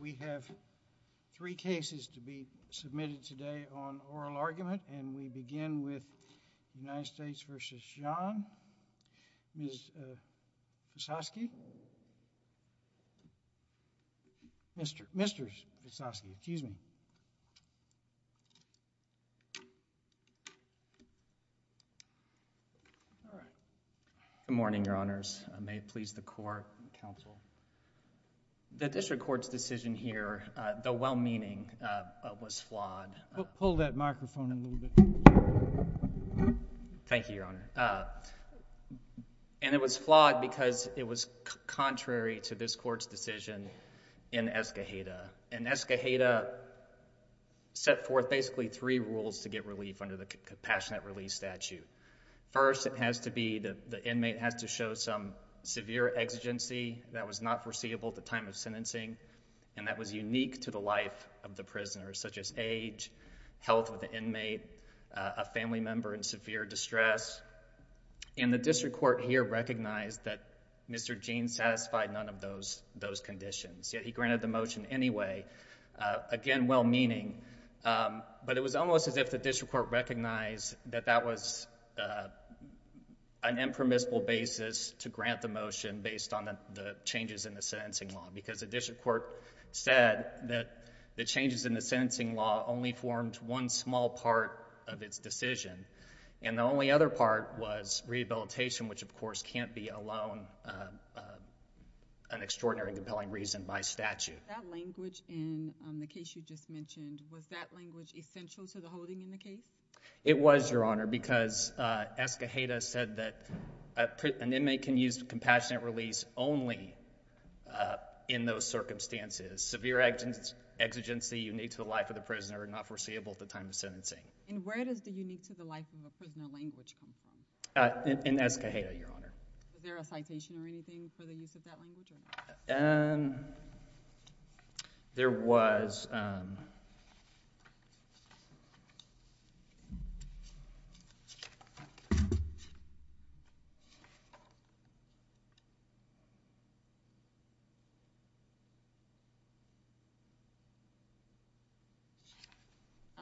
We have three cases to be submitted today on oral argument, and we begin with United States v. Jean, Ms. Vysocky, Mr. Vysocky, excuse me. Good morning, your honors. The district court's decision here, though well-meaning, was flawed. Pull that microphone a little bit. Thank you, your honor. And it was flawed because it was contrary to this court's decision in Escajeda. And Escajeda set forth basically three rules to get relief under the Compassionate Relief Statute. First, it has to be that the inmate has to show some severe exigency that was not foreseeable at the time of sentencing, and that was unique to the life of the prisoner, such as age, health of the inmate, a family member in severe distress, and the district court here recognized that Mr. Jean satisfied none of those conditions, yet he granted the motion anyway, again well-meaning. But it was almost as if the district court recognized that that was an impermissible basis to grant the motion based on the changes in the sentencing law, because the district court said that the changes in the sentencing law only formed one small part of its decision, and the only other part was rehabilitation, which of course can't be alone an extraordinary and compelling reason by statute. Was that language in the case you just mentioned, was that language essential to the holding in the case? It was, Your Honor, because Escajeda said that an inmate can use compassionate release only in those circumstances. Severe exigency unique to the life of the prisoner, not foreseeable at the time of sentencing. And where does the unique to the life of a prisoner language come from? In Escajeda, Your Honor. Is there a citation or anything for the use of that language? There was. I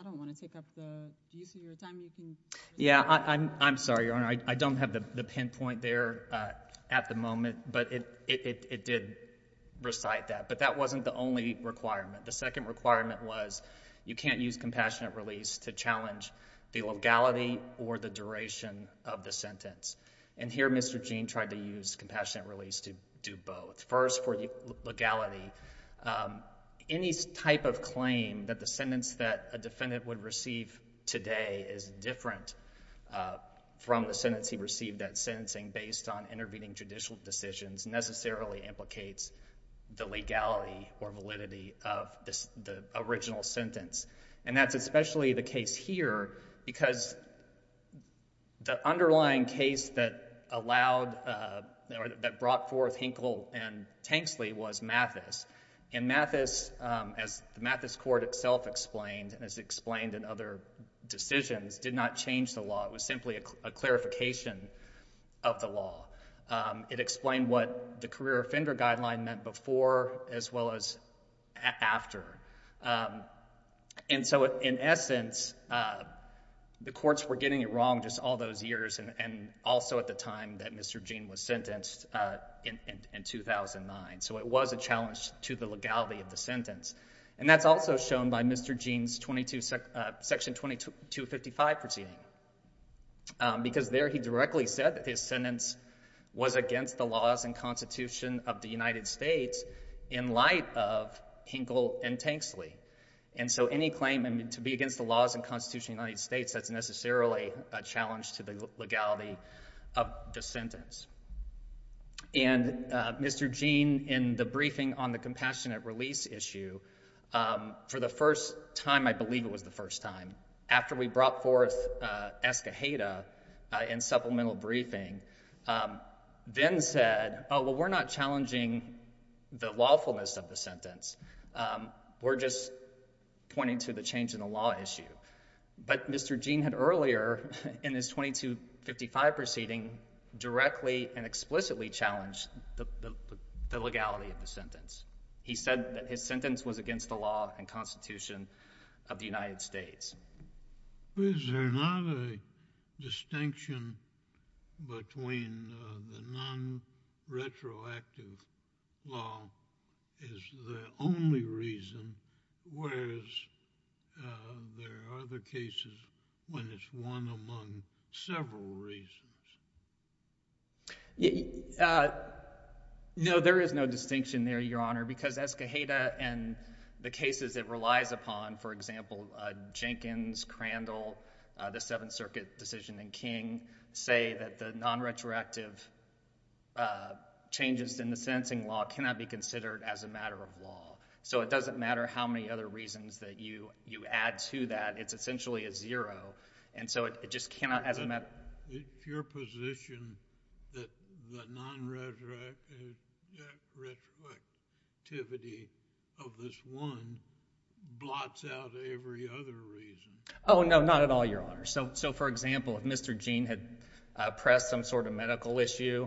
don't want to take up the use of your time, you can... Yeah, I'm sorry, Your Honor. I don't have the pinpoint there at the moment, but it did recite that, but that wasn't the only requirement. The second requirement was you can't use compassionate release to challenge the legality or the duration of the sentence. And here Mr. Jean tried to use compassionate release to do both. First for legality, any type of claim that the sentence that a defendant would receive today is different from the sentence he received at sentencing based on intervening judicial decisions necessarily implicates the legality or validity of the original sentence. And that's especially the case here because the underlying case that brought forth Hinkle and Tanksley was Mathis. And Mathis, as the Mathis court itself explained and as explained in other decisions, did not change the law. It was simply a clarification of the law. It explained what the career offender guideline meant before as well as after. And so in essence, the courts were getting it wrong just all those years and also at the time that Mr. Jean was sentenced in 2009. So it was a challenge to the legality of the sentence. And that's also shown by Mr. Jean's Section 2255 proceeding. Because there he directly said that his sentence was against the laws and constitution of the United States in light of Hinkle and Tanksley. And so any claim to be against the laws and constitution of the United States, that's necessarily a challenge to the legality of the sentence. And Mr. Jean, in the briefing on the compassionate release issue, for the first time, I believe it was the first time, after we brought forth Escajeda in supplemental briefing, then said, oh, well, we're not challenging the lawfulness of the sentence. We're just pointing to the change in the law issue. But Mr. Jean had earlier, in his 2255 proceeding, directly and explicitly challenged the legality of the sentence. He said that his sentence was against the law and constitution of the United States. Is there not a distinction between the non-retroactive law is the only reason, whereas there are other cases when it's one among several reasons? No, there is no distinction there, Your Honor, because Escajeda and the cases it relies upon, for example, Jenkins, Crandall, the Seventh Circuit decision in King, say that the non-retroactive changes in the sentencing law cannot be considered as a matter of law. So it doesn't matter how many other reasons that you add to that. It's essentially a zero. And so it just cannot, as a matter of... It's your position that the non-retroactivity of this one blots out every other reason. Oh, no, not at all, Your Honor. So for example, if Mr. Jean had pressed some sort of medical issue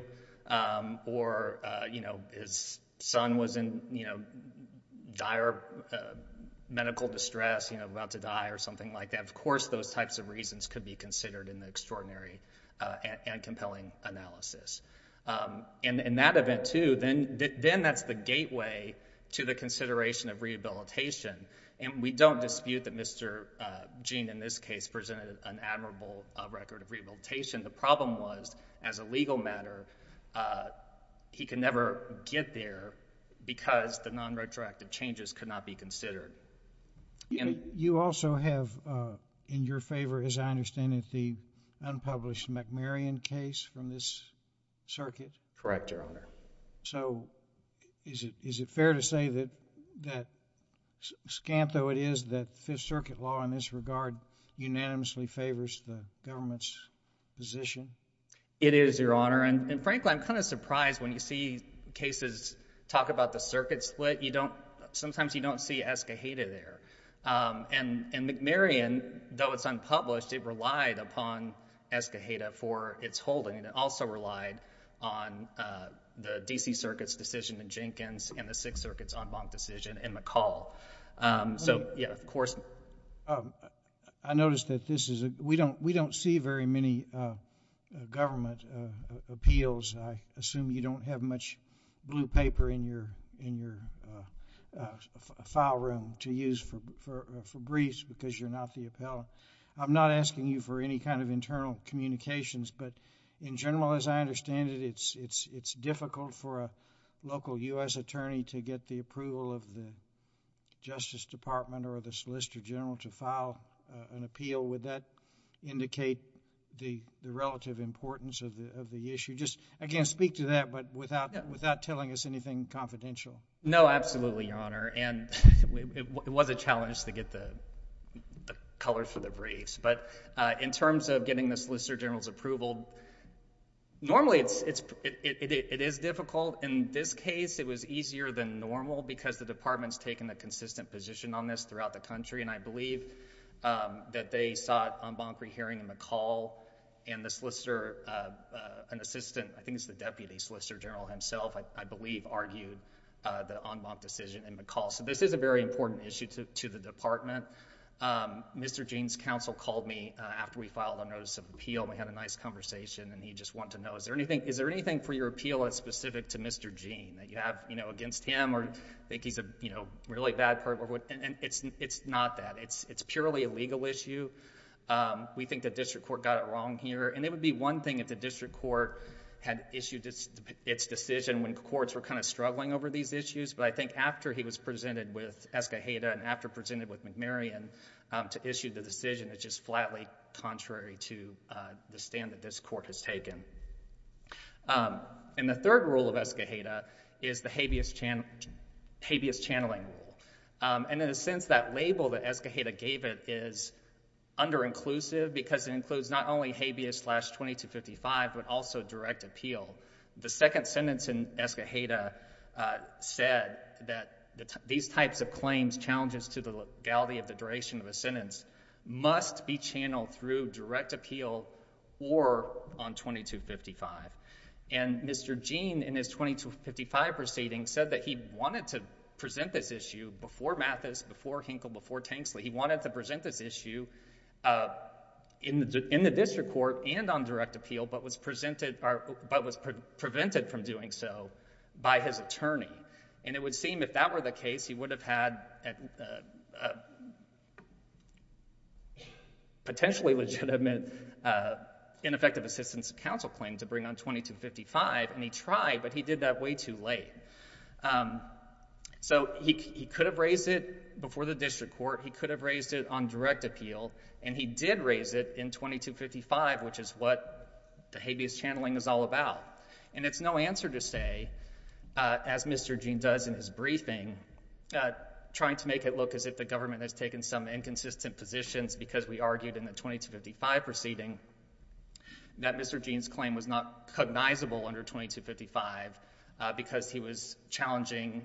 or, you know, his son was in, you know, dire medical distress, you know, about to die or something like that, of course those types of reasons could be considered in the extraordinary and compelling analysis. And in that event, too, then that's the gateway to the consideration of rehabilitation. And we don't dispute that Mr. Jean, in this case, presented an admirable record of rehabilitation. The problem was, as a legal matter, he could never get there because the non-retroactive changes could not be considered. And you also have in your favor, as I understand it, the unpublished McMarion case from this circuit? Correct, Your Honor. So is it fair to say that, scant though it is, that Fifth Circuit law in this regard unanimously favors the government's position? It is, Your Honor. And frankly, I'm kind of surprised when you see cases talk about the circuit split. But you don't, sometimes you don't see Escajeda there. And McMarion, though it's unpublished, it relied upon Escajeda for its holding and also relied on the D.C. Circuit's decision in Jenkins and the Sixth Circuit's en banc decision in McCall. So, yeah, of course. I noticed that this is, we don't see very many government appeals, I assume you don't have much blue paper in your file room to use for briefs because you're not the appellant. I'm not asking you for any kind of internal communications, but in general, as I understand it, it's difficult for a local U.S. attorney to get the approval of the Justice Department or the Solicitor General to file an appeal. Would that indicate the relative importance of the issue? I can't speak to that, but without telling us anything confidential. No, absolutely, Your Honor. And it was a challenge to get the colors for the briefs. But in terms of getting the Solicitor General's approval, normally it is difficult. In this case, it was easier than normal because the Department's taken a consistent position on this throughout the country, and I believe that they sought en banc rehearing in McCall and the Solicitor, an assistant, I think it's the Deputy Solicitor General himself, I believe, argued the en banc decision in McCall. So this is a very important issue to the Department. Mr. Gene's counsel called me after we filed a notice of appeal and we had a nice conversation and he just wanted to know, is there anything for your appeal that's specific to Mr. Gene that you have against him or you think he's a really bad person? It's not that. It's purely a legal issue. We think the district court got it wrong here, and it would be one thing if the district court had issued its decision when courts were kind of struggling over these issues, but I think after he was presented with Escajeda and after presented with McMarion to issue the decision, it's just flatly contrary to the stand that this court has taken. And the third rule of Escajeda is the habeas channeling rule. And in a sense, that label that Escajeda gave it is under-inclusive because it includes not only habeas slash 2255, but also direct appeal. The second sentence in Escajeda said that these types of claims, challenges to the legality of the duration of a sentence, must be channeled through direct appeal or on 2255. And Mr. Gene in his 2255 proceeding said that he wanted to present this issue before Mathis, before Hinkle, before Tanksley. He wanted to present this issue in the district court and on direct appeal, but was prevented from doing so by his attorney. And it would seem if that were the case, he would have had a potentially legitimate ineffective assistance of counsel claim to bring on 2255, and he tried, but he did that way too late. So he could have raised it before the district court, he could have raised it on direct appeal, and he did raise it in 2255, which is what the habeas channeling is all about. And it's no answer to say, as Mr. Gene does in his briefing, trying to make it look as if the government has taken some inconsistent positions because we argued in the 2255 proceeding that Mr. Gene's claim was not cognizable under 2255 because he was challenging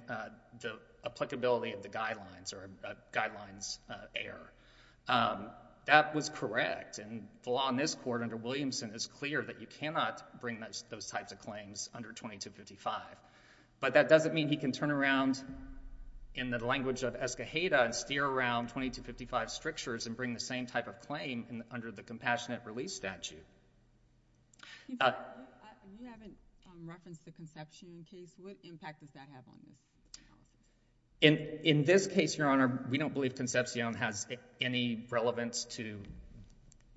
the applicability of the guidelines or a guidelines error. That was correct, and the law in this court under Williamson is clear that you cannot bring those types of claims under 2255. But that doesn't mean he can turn around in the language of Escajeda and steer around 2255 strictures and bring the same type of claim under the compassionate release statute. You haven't referenced the Concepcion case. What impact does that have on this? In this case, Your Honor, we don't believe Concepcion has any relevance to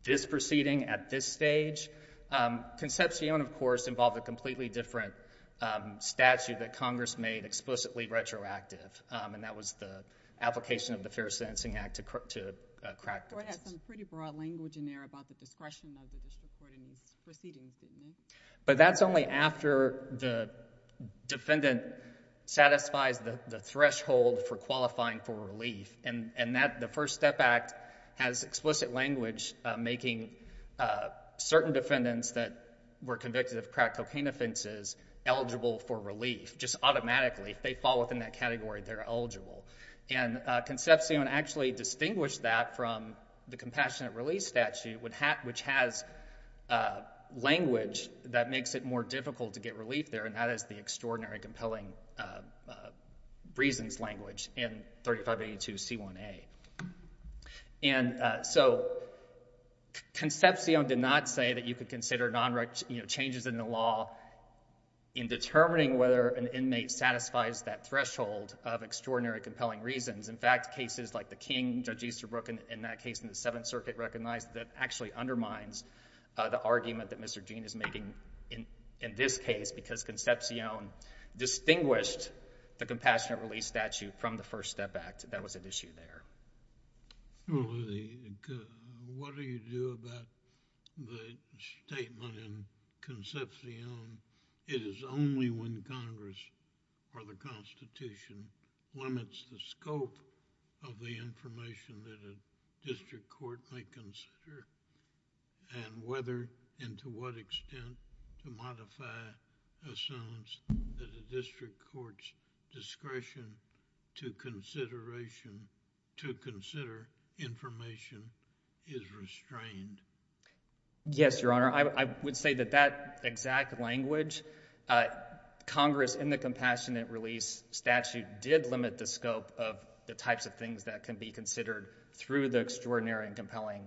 this proceeding at this stage. Concepcion, of course, involved a completely different statute that Congress made explicitly retroactive, and that was the application of the Fair Sentencing Act to crack the case. The court had some pretty broad language in there about the discretion of the district court in this proceeding, didn't it? But that's only after the defendant satisfies the threshold for qualifying for relief. The First Step Act has explicit language making certain defendants that were convicted of crack cocaine offenses eligible for relief, just automatically. If they fall within that category, they're eligible, and Concepcion actually distinguished that from the compassionate release statute, which has language that makes it more difficult to get relief there, and that is the Extraordinary Compelling Reasons language in 3582C1A. So Concepcion did not say that you could consider changes in the law in determining whether an inmate satisfies that threshold of Extraordinary Compelling Reasons. In fact, cases like the King, Judge Easterbrook, in that case in the Seventh Circuit recognized that actually undermines the argument that Mr. Gene is making in this case because Concepcion distinguished the compassionate release statute from the First Step Act that was at issue there. Well, what do you do about the statement in Concepcion, it is only when Congress or the legislature and whether and to what extent to modify a sentence that a district court's discretion to consideration, to consider information is restrained? Yes, Your Honor, I would say that that exact language, Congress in the compassionate release statute did limit the scope of the types of things that can be considered through the Extraordinary Compelling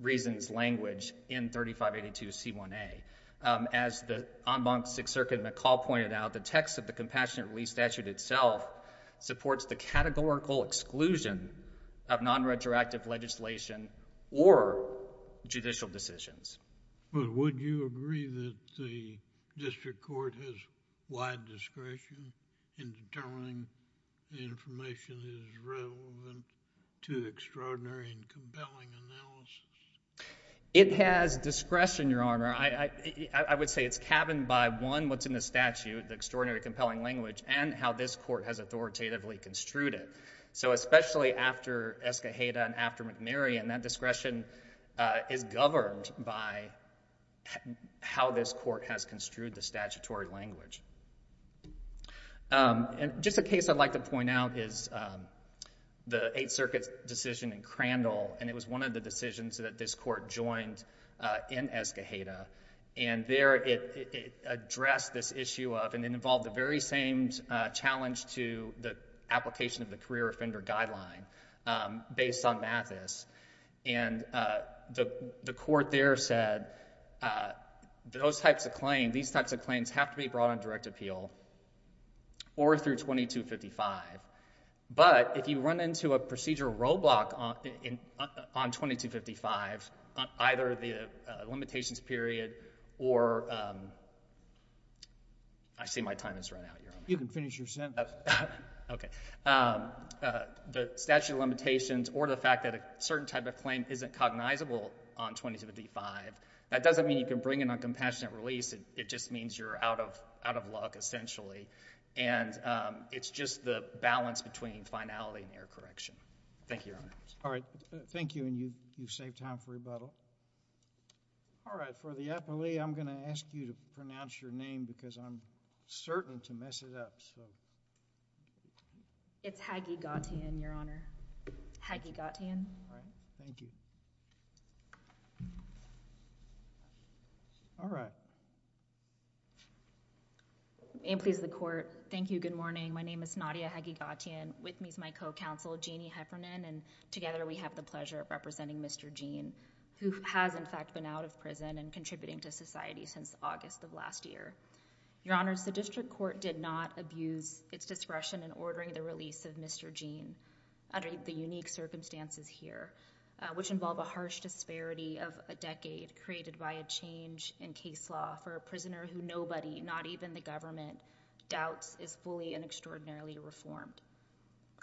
Reasons language in 3582C1A. As the en banc Sixth Circuit McCall pointed out, the text of the compassionate release statute itself supports the categorical exclusion of non-retroactive legislation or judicial decisions. Well, would you agree that the district court has wide discretion in determining the information that is relevant to extraordinary and compelling analysis? It has discretion, Your Honor. I would say it's cabined by, one, what's in the statute, the Extraordinary Compelling Language, and how this court has authoritatively construed it. So especially after Escajeda and after McNary, and that discretion is governed by how this court has construed the statutory language. And just a case I'd like to point out is the Eighth Circuit's decision in Crandall, and it was one of the decisions that this court joined in Escajeda, and there it addressed this issue of, and it involved the very same challenge to the application of the career offender guideline based on Mathis, and the court there said those types of claims, these types of claims, are not subject to direct appeal or through 2255. But if you run into a procedural roadblock on 2255, on either the limitations period or the statute of limitations or the fact that a certain type of claim isn't cognizable on 2255, that doesn't mean you can bring an uncompassionate release. It just means you're out of luck, essentially, and it's just the balance between finality and error correction. Thank you, Your Honor. All right. Thank you, and you've saved time for rebuttal. All right. For the appellee, I'm going to ask you to pronounce your name, because I'm certain to mess it up, so. It's Haggy Gautian, Your Honor. Haggy Gautian. All right. Thank you. All right. All right. And please, the court, thank you, good morning. My name is Nadia Haggy Gautian. With me is my co-counsel, Jeannie Heffernan, and together we have the pleasure of representing Mr. Jean, who has, in fact, been out of prison and contributing to society since August of last year. Your Honors, the district court did not abuse its discretion in ordering the release of Mr. Jean under the unique circumstances here, which involve a harsh disparity of a decade created by a change in case law for a prisoner who nobody, not even the government, doubts is fully and extraordinarily reformed.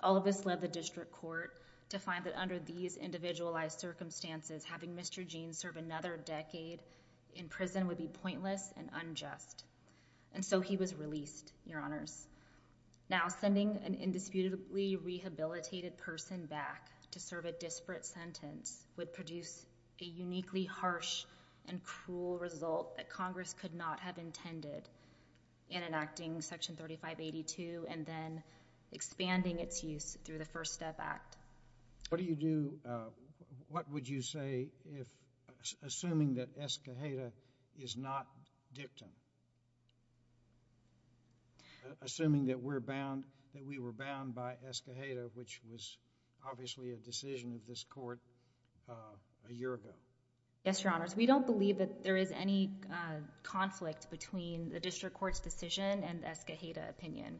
All of this led the district court to find that under these individualized circumstances, having Mr. Jean serve another decade in prison would be pointless and unjust, and so he was released, Your Honors. Now sending an indisputably rehabilitated person back to serve a disparate sentence would produce a uniquely harsh and cruel result that Congress could not have intended in enacting Section 3582 and then expanding its use through the First Step Act. What do you do, what would you say if, assuming that Escoheta is not dictum, assuming that we're bound, that we were bound by Escoheta, which was obviously a decision of this court a year ago? Yes, Your Honors. We don't believe that there is any conflict between the district court's decision and Escoheta opinion.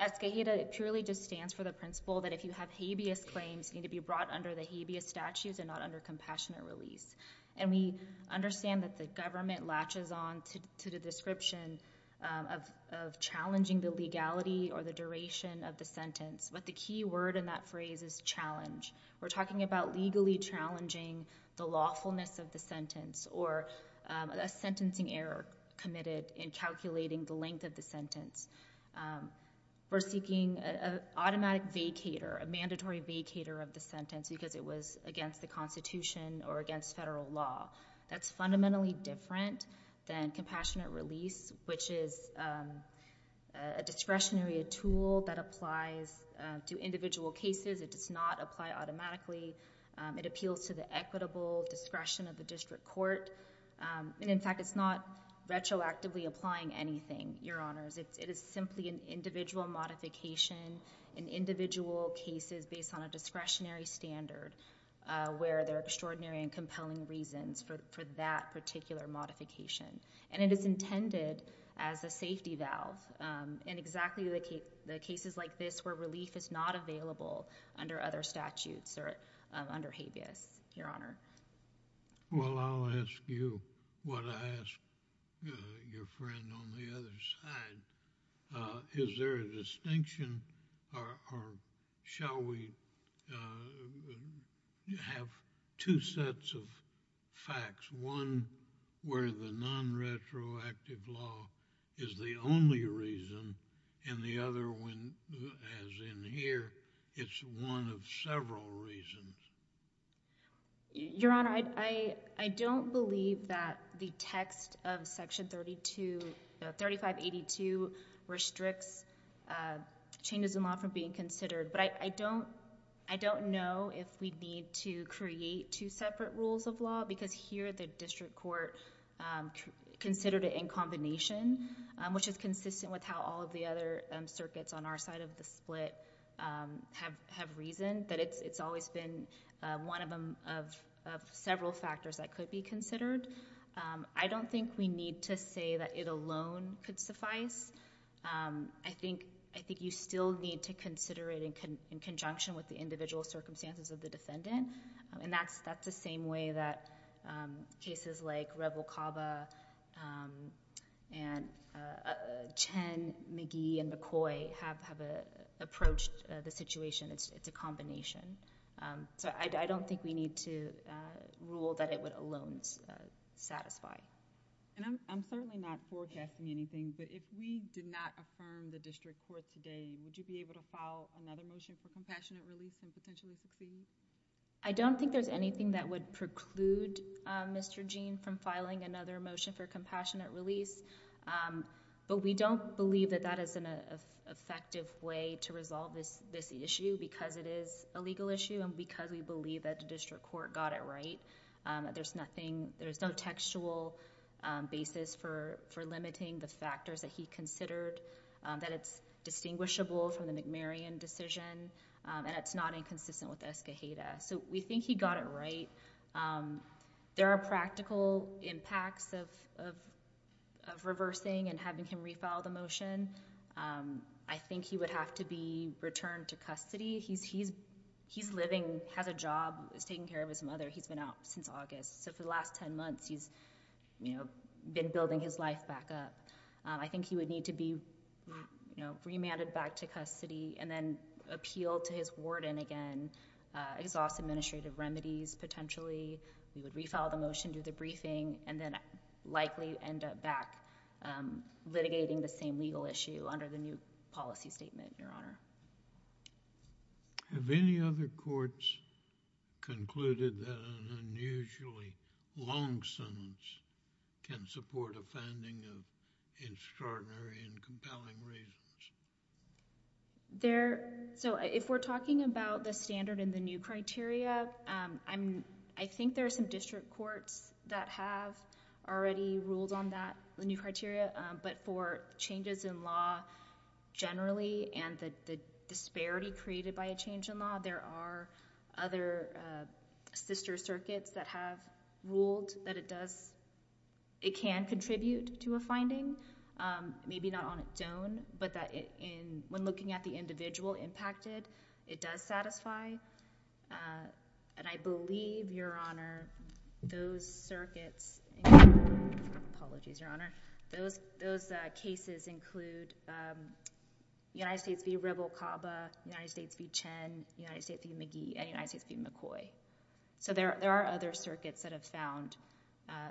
Escoheta purely just stands for the principle that if you have habeas claims, you need to be brought under the habeas statutes and not under compassionate release, and we understand that the government latches on to the description of challenging the legality or the duration of the sentence, but the key word in that phrase is challenge. We're talking about legally challenging the lawfulness of the sentence or a sentencing error committed in calculating the length of the sentence. We're seeking an automatic vacator, a mandatory vacator of the sentence because it was against the Constitution or against federal law. That's fundamentally different than compassionate release, which is a discretionary tool that applies to individual cases. It does not apply automatically. It appeals to the equitable discretion of the district court, and in fact, it's not retroactively applying anything, Your Honors. It is simply an individual modification in individual cases based on a discretionary standard where there are extraordinary and compelling reasons for that particular modification, and it is intended as a safety valve in exactly the cases like this where relief is not available under other statutes or under habeas, Your Honor. Well, I'll ask you what I ask your friend on the other side. Is there a distinction or shall we have two sets of facts, one where the non-retroactive law is the only reason and the other one, as in here, it's one of several reasons? Your Honor, I don't believe that the text of Section 3582 restricts changes in law from being considered, but I don't know if we need to create two separate rules of law because here the district court considered it in combination, which is consistent with how all of the other cases are considered, one of several factors that could be considered. I don't think we need to say that it alone could suffice. I think you still need to consider it in conjunction with the individual circumstances of the defendant, and that's the same way that cases like Rebel Caba and Chen, McGee, and McCoy have approached the situation. It's a combination. I don't think we need to rule that it would alone satisfy. I'm certainly not forecasting anything, but if we did not affirm the district court today, would you be able to file another motion for compassionate release and potentially succeed? I don't think there's anything that would preclude Mr. Jean from filing another motion for compassionate release, but we don't believe that that is an effective way to resolve this issue because it is a legal issue and because we believe that the district court got it right. There's no textual basis for limiting the factors that he considered, that it's distinguishable from the McMarion decision, and it's not inconsistent with Escajeda. We think he got it right. There are practical impacts of reversing and having him refile the motion. I think he would have to be returned to custody. He's living, has a job, is taking care of his mother. He's been out since August, so for the last 10 months, he's been building his life back up. I think he would need to be remanded back to custody and then appealed to his warden again. It exhausts administrative remedies, potentially. He would refile the motion, do the briefing, and then likely end up back litigating the same legal issue under the new policy statement, Your Honor. Have any other courts concluded that an unusually long sentence can support a finding of extraordinary and compelling reasons? If we're talking about the standard in the new criteria, I think there are some district courts that have already ruled on that, the new criteria, but for changes in law generally and the disparity created by a change in law, there are other sister circuits that have ruled that it does, it can contribute to a finding, maybe not on its own, but when looking at the individual impacted, it does satisfy. I believe, Your Honor, those circuits... apologies, Your Honor. Those cases include United States v. Rebel-Caba, United States v. Chen, United States v. McGee, and United States v. McCoy. There are other circuits that have found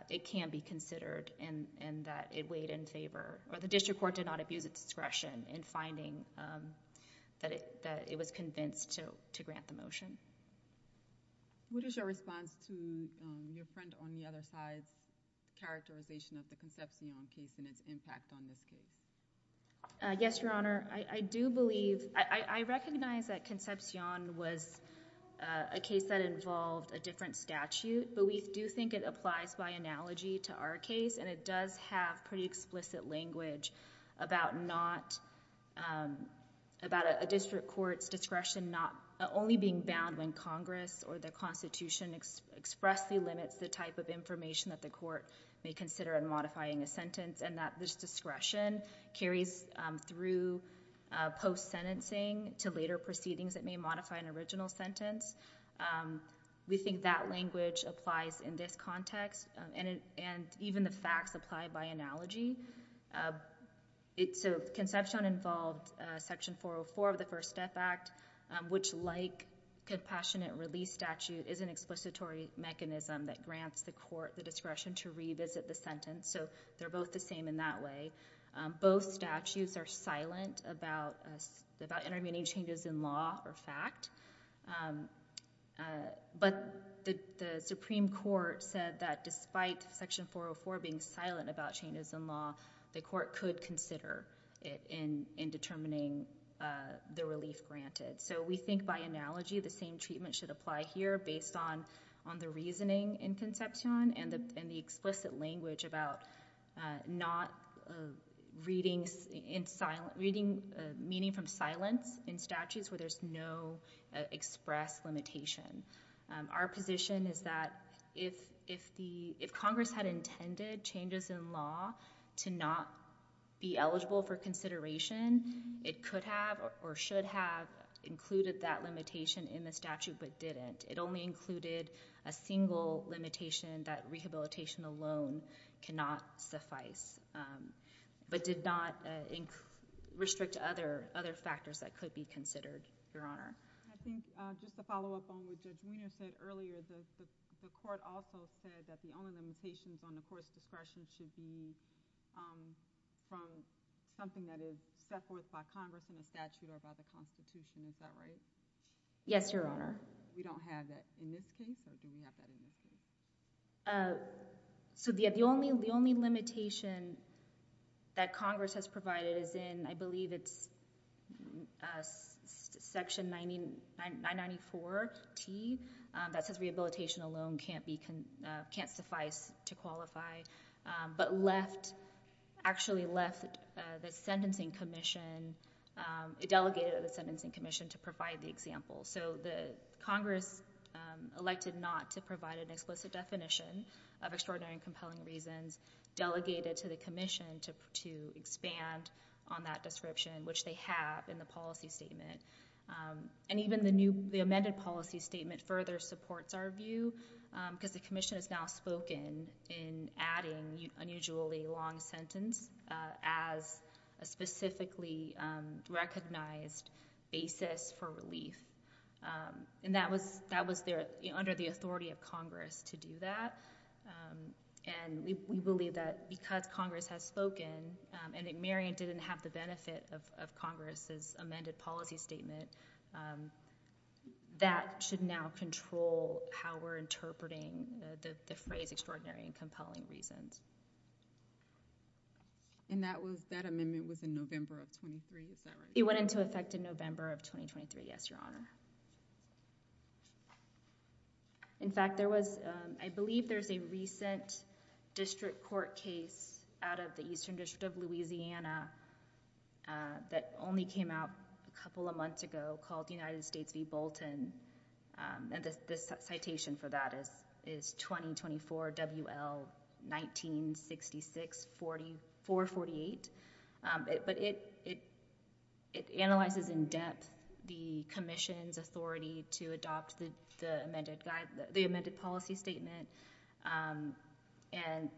it can be considered and that it weighed in favor, or the district court did not abuse its discretion in finding that it was convinced to grant the motion. What is your response to your friend on the other side's characterization of the Concepcion case and its impact on this case? Yes, Your Honor. I do believe... I recognize that Concepcion was a case that involved a different statute, but we do think it applies by analogy to our case, and it does have pretty explicit language about not... about a district court's discretion not only being bound when Congress or the Constitution expressly limits the type of information that the court may consider in modifying a sentence, and that this discretion carries through post-sentencing to later proceedings that may modify an original sentence. We think that language applies in this context, and even the facts apply by analogy. So, Concepcion involved Section 404 of the First Death Act, which, like Compassionate Release Statute, is an explicit mechanism that grants the court the discretion to revisit the sentence, so they're both the same in that way. Both statutes are silent about intervening changes in law or fact, but the Supreme Court said that despite Section 404 being silent about changes in law, the court could consider it in determining the relief granted. So, we think by analogy, the same treatment should apply here based on the reasoning in reading... meaning from silence in statutes where there's no expressed limitation. Our position is that if Congress had intended changes in law to not be eligible for consideration, it could have or should have included that limitation in the statute but didn't. It only included a single limitation that rehabilitation alone cannot suffice, but did not restrict other factors that could be considered, Your Honor. I think, just to follow up on what Judge Munoz said earlier, the court also said that the only limitations on the court's discretion should be from something that is set forth by Congress in the statute or by the Constitution. Is that right? Yes, Your Honor. We don't have that in this case, or do we have that in this case? So, the only limitation that Congress has provided is in, I believe it's Section 994T that says rehabilitation alone can't suffice to qualify, but left, actually left the sentencing commission, a delegate of the sentencing commission to provide the example. So, Congress elected not to provide an explicit definition of extraordinary and compelling reasons, delegated to the commission to expand on that description, which they have in the policy statement. Even the amended policy statement further supports our view because the commission has now spoken in adding unusually long sentence as a specifically recognized basis for relief. And that was there under the authority of Congress to do that, and we believe that because Congress has spoken, and that Marion didn't have the benefit of Congress's amended policy statement, that should now control how we're interpreting the phrase extraordinary and compelling reasons. And that was, that amendment was in November of 23, is that right? It went into effect in November of 2023, yes, Your Honor. In fact, there was, I believe there's a recent district court case out of the Eastern District of Louisiana that only came out a couple of months ago called United States v. Bolton. And the citation for that is 2024 WL19664448. But it analyzes in depth the commission's authority to adopt the amended guide, the amended policy statement, and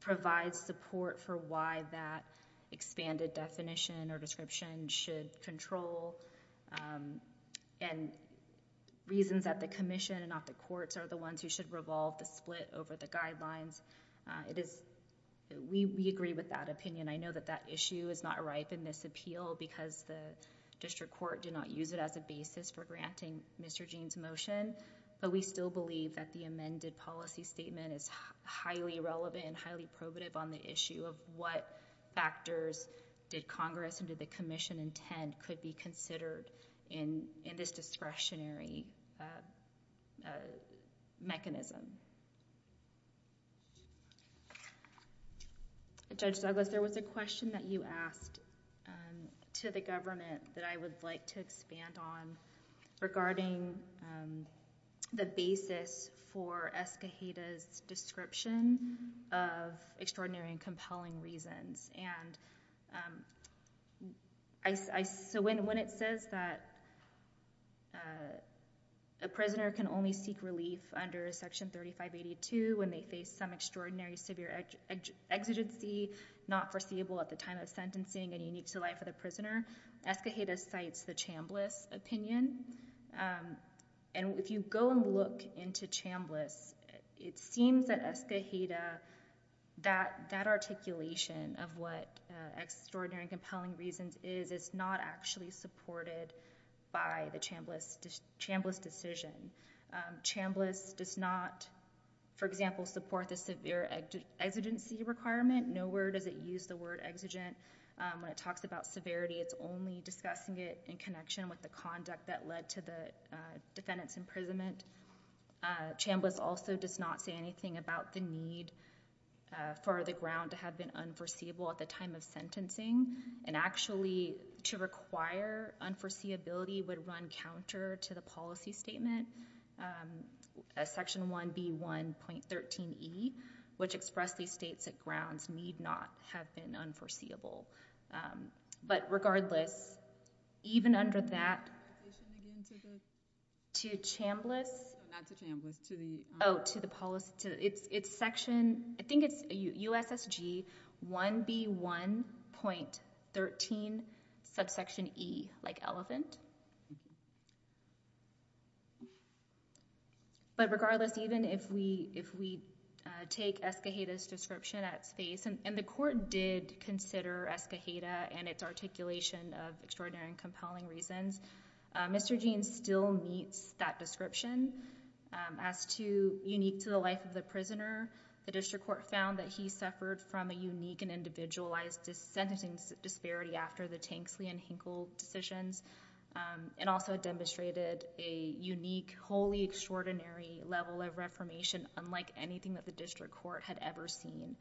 provides support for why that expanded definition or description should control and reasons that the commission and not the courts are the ones who should revolve the split over the guidelines. It is, we agree with that opinion. I know that that issue is not ripe in this appeal because the district court did not use it as a basis for granting Mr. Jean's motion, but we still believe that the amended policy statement is highly relevant and highly probative on the issue of what factors did the commission intend could be considered in this discretionary mechanism. Judge Douglas, there was a question that you asked to the government that I would like to expand on regarding the basis for Escajeda's description of extraordinary and compelling reasons. So when it says that a prisoner can only seek relief under Section 3582 when they face some extraordinary severe exigency not foreseeable at the time of sentencing and unique to the life of the prisoner, Escajeda cites the Chambliss opinion. And if you go and look into Chambliss, it seems that Escajeda, that articulation of what extraordinary and compelling reasons is, is not actually supported by the Chambliss decision. Chambliss does not, for example, support the severe exigency requirement. Nowhere does it use the word exigent. When it talks about severity, it's only discussing it in connection with the conduct that led to the defendant's imprisonment. Chambliss also does not say anything about the need for the ground to have been unforeseeable at the time of sentencing. And actually to require unforeseeability would run counter to the policy statement, Section 1B1.13e, which expressedly states that grounds need not have been unforeseeable. But regardless, even under that, to Chambliss... Not to Chambliss, to the... Oh, to the policy... It's Section... I think it's USSG 1B1.13 subsection e, like elephant. But regardless, even if we take Escajeda's description at face... And the court did consider Escajeda and its articulation of extraordinary and compelling reasons. Mr. Jeans still meets that description. As to unique to the life of the prisoner, the district court found that he suffered from a unique and individualized sentencing disparity after the Tanksley and Hinkle decisions. And also demonstrated a unique, wholly extraordinary level of reformation, unlike anything that the district court had ever seen,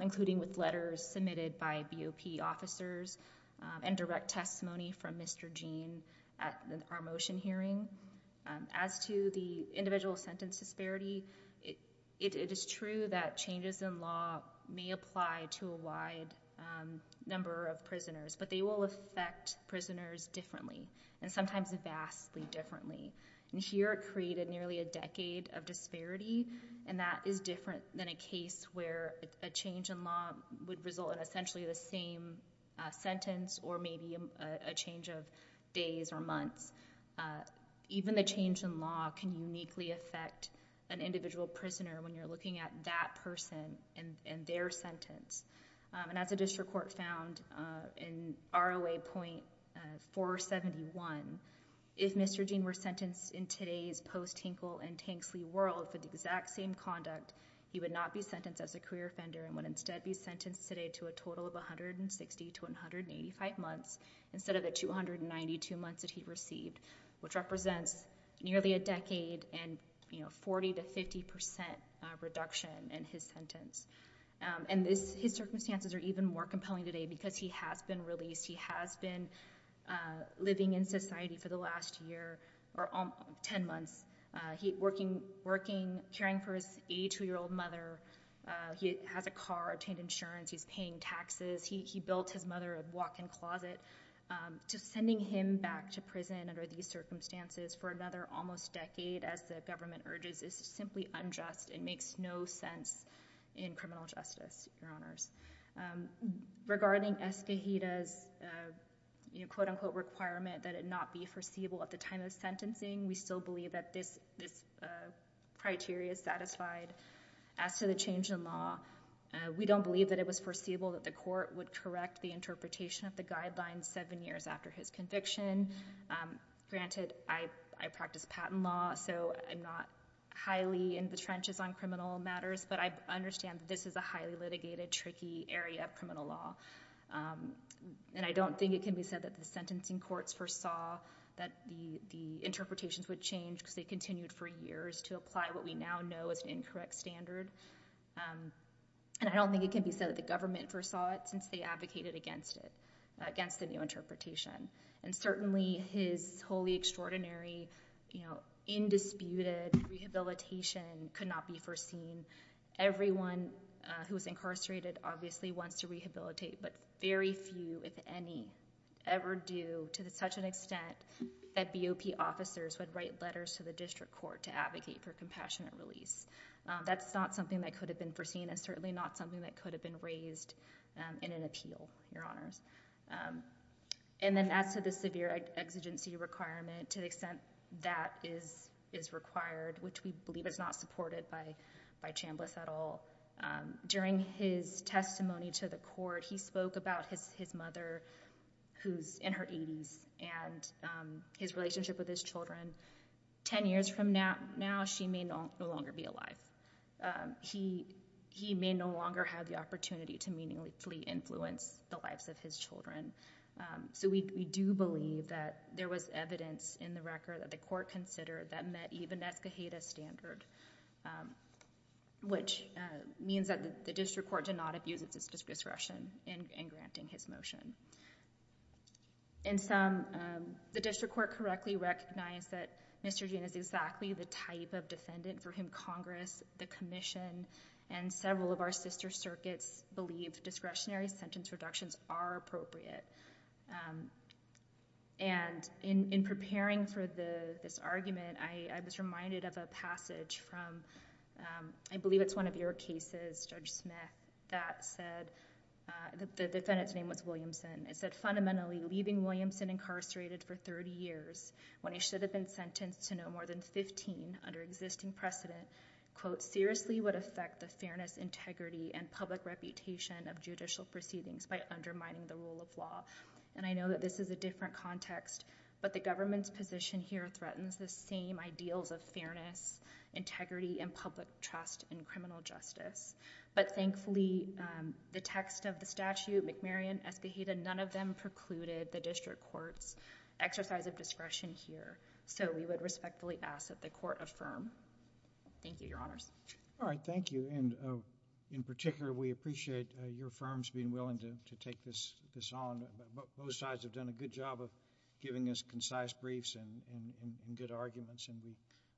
including with letters submitted by BOP officers and direct testimony from Mr. Jeans at our motion hearing. As to the individual sentence disparity, it is true that changes in law may apply to a wide number of prisoners, but they will affect prisoners differently and sometimes vastly differently. And here it created nearly a decade of disparity, and that is different than a case where a change in law would result in essentially the same sentence or maybe a change of days or months. Even the change in law can uniquely affect an individual prisoner when you're looking at that person and their sentence. As the district court found in ROA.471, if Mr. Jeans were sentenced in today's post-Hinkle and Tanksley world with the exact same conduct, he would not be sentenced as a career offender and would instead be sentenced today to a total of 160 to 185 months instead of the 292 months that he received, which represents nearly a decade and 40 to 50% reduction in his sentence. And his circumstances are even more compelling today because he has been released. He has been living in society for the last year or 10 months. Working, caring for his 82-year-old mother. He has a car, obtained insurance. He's paying taxes. He built his mother a walk-in closet. Just sending him back to prison under these circumstances for another almost decade, as the government urges, is simply unjust and makes no sense in criminal justice, Your Honors. Regarding Escohita's quote-unquote requirement that it not be foreseeable at the time of sentencing, we still believe that this criteria is satisfied. As to the change in law, we don't believe that it was foreseeable that the court would correct the interpretation of the guidelines seven years after his conviction. Granted, I practice patent law, so I'm not highly in the trenches on criminal matters, but I understand that this is a highly litigated, tricky area of criminal law. And I don't think it can be said that the sentencing courts foresaw that the interpretations would change because they continued for years to apply what we now know as an incorrect standard. And I don't think it can be said that the government foresaw it since they advocated against it, against the new interpretation. And certainly, his wholly extraordinary, indisputed rehabilitation could not be foreseen. Everyone who was incarcerated obviously wants to rehabilitate, but very few, if any, ever do to such an extent that BOP officers would write letters to the district court to advocate for compassionate release. That's not something that could have been foreseen, and certainly not something that could have been raised in an appeal, Your Honors. And then as to the severe exigency requirement, to the extent that is required, which we believe is not supported by Chambliss at all, during his testimony to the court, he spoke about his mother, who's in her 80s, and his relationship with his children. Ten years from now, she may no longer be alive. He may no longer have the opportunity to meaningfully influence the lives of his children. So we do believe that there was evidence in the record that the court considered that met even Escajeda's standard, which means that the district court did not abuse its discretion in granting his motion. In sum, the district court correctly recognized that Mr. Gene is exactly the type of defendant for whom Congress, the commission, and several of our sister circuits believe discretionary sentence reductions are appropriate. And in preparing for this argument, I was reminded of a passage from, I believe it's one of your cases, Judge Smith, that said, the defendant's name was Williamson. It said, fundamentally, leaving Williamson incarcerated for 30 years when he should have been sentenced to no more than 15 under existing precedent, quote, seriously would affect the fairness, integrity, and public reputation of judicial proceedings by undermining the rule of law. And I know that this is a different context, but the government's position here threatens the same ideals of fairness, integrity, and public trust in criminal justice. But thankfully, the text of the statute, McMarion, Escajeda, none of them precluded the district court's exercise of discretion here. So we would respectfully ask that the court affirm. Thank you, Your Honors. All right. Thank you. And in particular, we appreciate your firm's being willing to take this on. Both sides have done a good job of giving us concise briefs and good arguments, and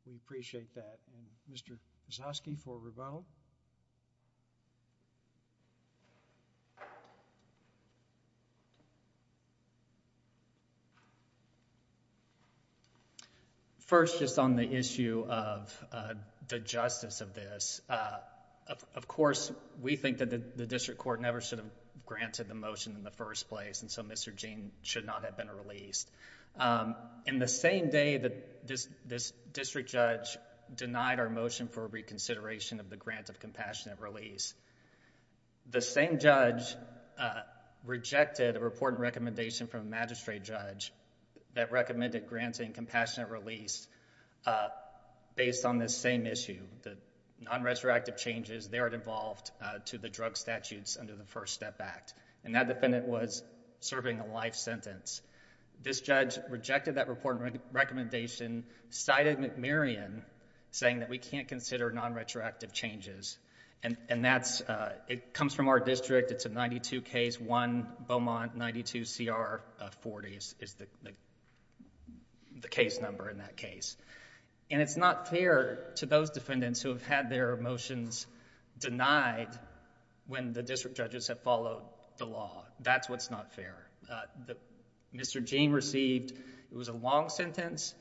we appreciate that. And Mr. Zaske for Riveau? First, just on the issue of the justice of this, of course, we think that the district court never should have granted the motion in the first place, and so Mr. Jean should not have been released. In the same day that this district judge denied our motion for reconsideration of the grant of compassionate release, the same judge rejected a report and recommendation from a magistrate judge that recommended granting compassionate release based on this same issue, the non-retroactive changes there involved to the drug statutes under the First Step Act. And that defendant was serving a life sentence. This judge rejected that report and recommendation, cited McMurion, saying that we can't consider non-retroactive changes. And that's... it comes from our district. It's a 92K1 Beaumont 92CR40 is the case number in that case. And it's not fair to those defendants who have had their motions denied when the district judges have followed the law. That's what's not fair. Mr. Jean received... it was a long sentence.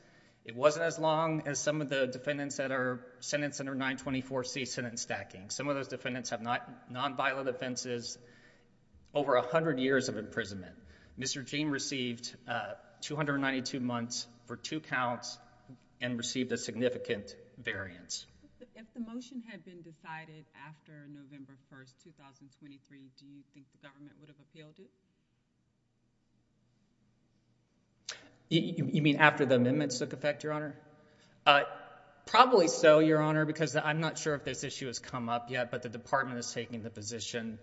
It wasn't as long as some of the defendants that are sentenced under 924C, sentence stacking. Some of those defendants have non-violent offenses, over 100 years of imprisonment. Mr. Jean received 292 months for two counts and received a significant variance. If the motion had been decided after November 1, 2023, do you think the government would have appealed it? You mean after the amendments took effect, Your Honor? Probably so, Your Honor, because I'm not sure if this issue has come up yet, but the department is taking the position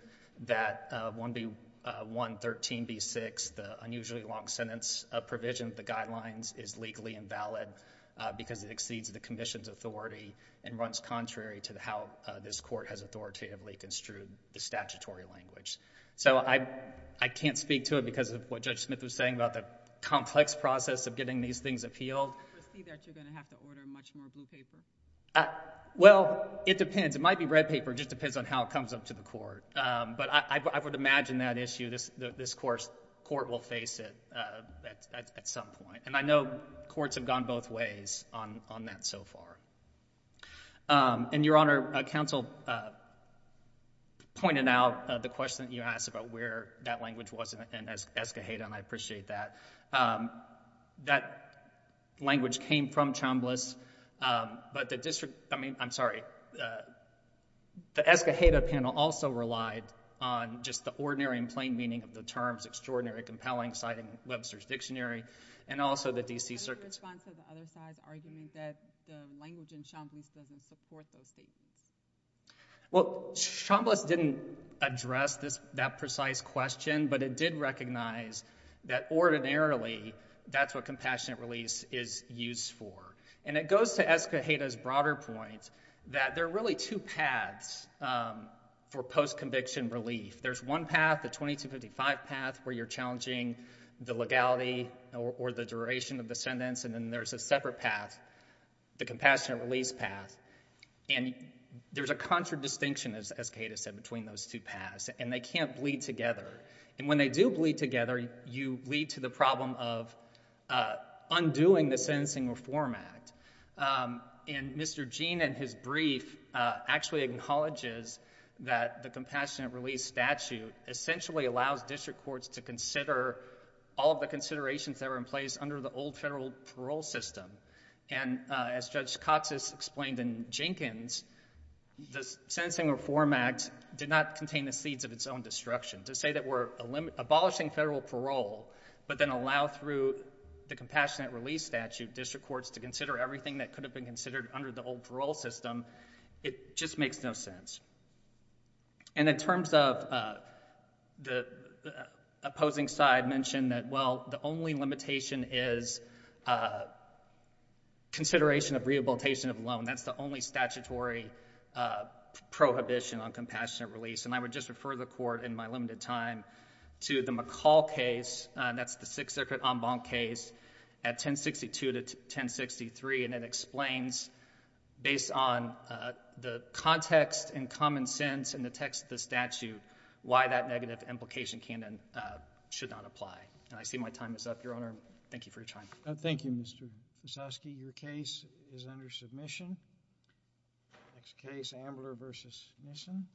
that 1B1 13B6, the unusually long sentence provision of the guidelines, is legally invalid because it exceeds the commission's authority and runs contrary to how this court has authoritatively construed the statutory language. So I can't speak to it because of what Judge Smith was saying about the complex process of getting these things appealed. Do you foresee that you're going to have to order much more blue paper? Well, it depends. It might be red paper. It just depends on how it comes up to the court. But I would imagine that issue, this court will face it at some point. And I know courts have gone both ways on that so far. And, Your Honor, counsel pointed out the question that you asked about where that language was in Escajeda, and I appreciate that. That language came from Chambliss, but the district, I mean, I'm sorry, the Escajeda panel also relied on just the ordinary and plain meaning of the terms extraordinary, compelling, citing Webster's Dictionary, and also the D.C. Circus. Is there a response to the other side's argument that the language in Chambliss doesn't support those statements? Well, Chambliss didn't address that precise question, but it did recognize that ordinarily that's what compassionate release is used for. And it goes to Escajeda's broader point that there are really two paths for post-conviction relief. There's one path, the 2255 path, where you're challenging the legality or the duration of the sentence, and then there's a separate path, the compassionate release path. And there's a contradistinction, as Escajeda said, between those two paths, and they can't bleed together. And when they do bleed together, you lead to the problem of undoing the Sentencing Reform Act. And Mr. Gene, in his brief, actually acknowledges that the compassionate release statute essentially allows district courts to consider all of the considerations that are in place under the old federal parole system. And as Judge Cox has explained in Jenkins, the Sentencing Reform Act did not contain the seeds of its own destruction. To say that we're abolishing federal parole, but then allow through the compassionate release statute district courts to consider everything that could have been considered under the old parole system, it just makes no sense. And in terms of the opposing side mentioned that, well, the only limitation is consideration of rehabilitation of loan. That's the only statutory prohibition on compassionate release. And I would just refer the court in my limited time to the McCall case, that's the Sixth Circuit en banc case, at 1062 to 1063, and it explains, based on the context and common sense and the text of the statute, why that negative implication should not apply. And I see my time is up. Your Honor, thank you for your time. Thank you, Mr. Mussovsky. Your case is under submission. Next case, Ambler v. Nissen.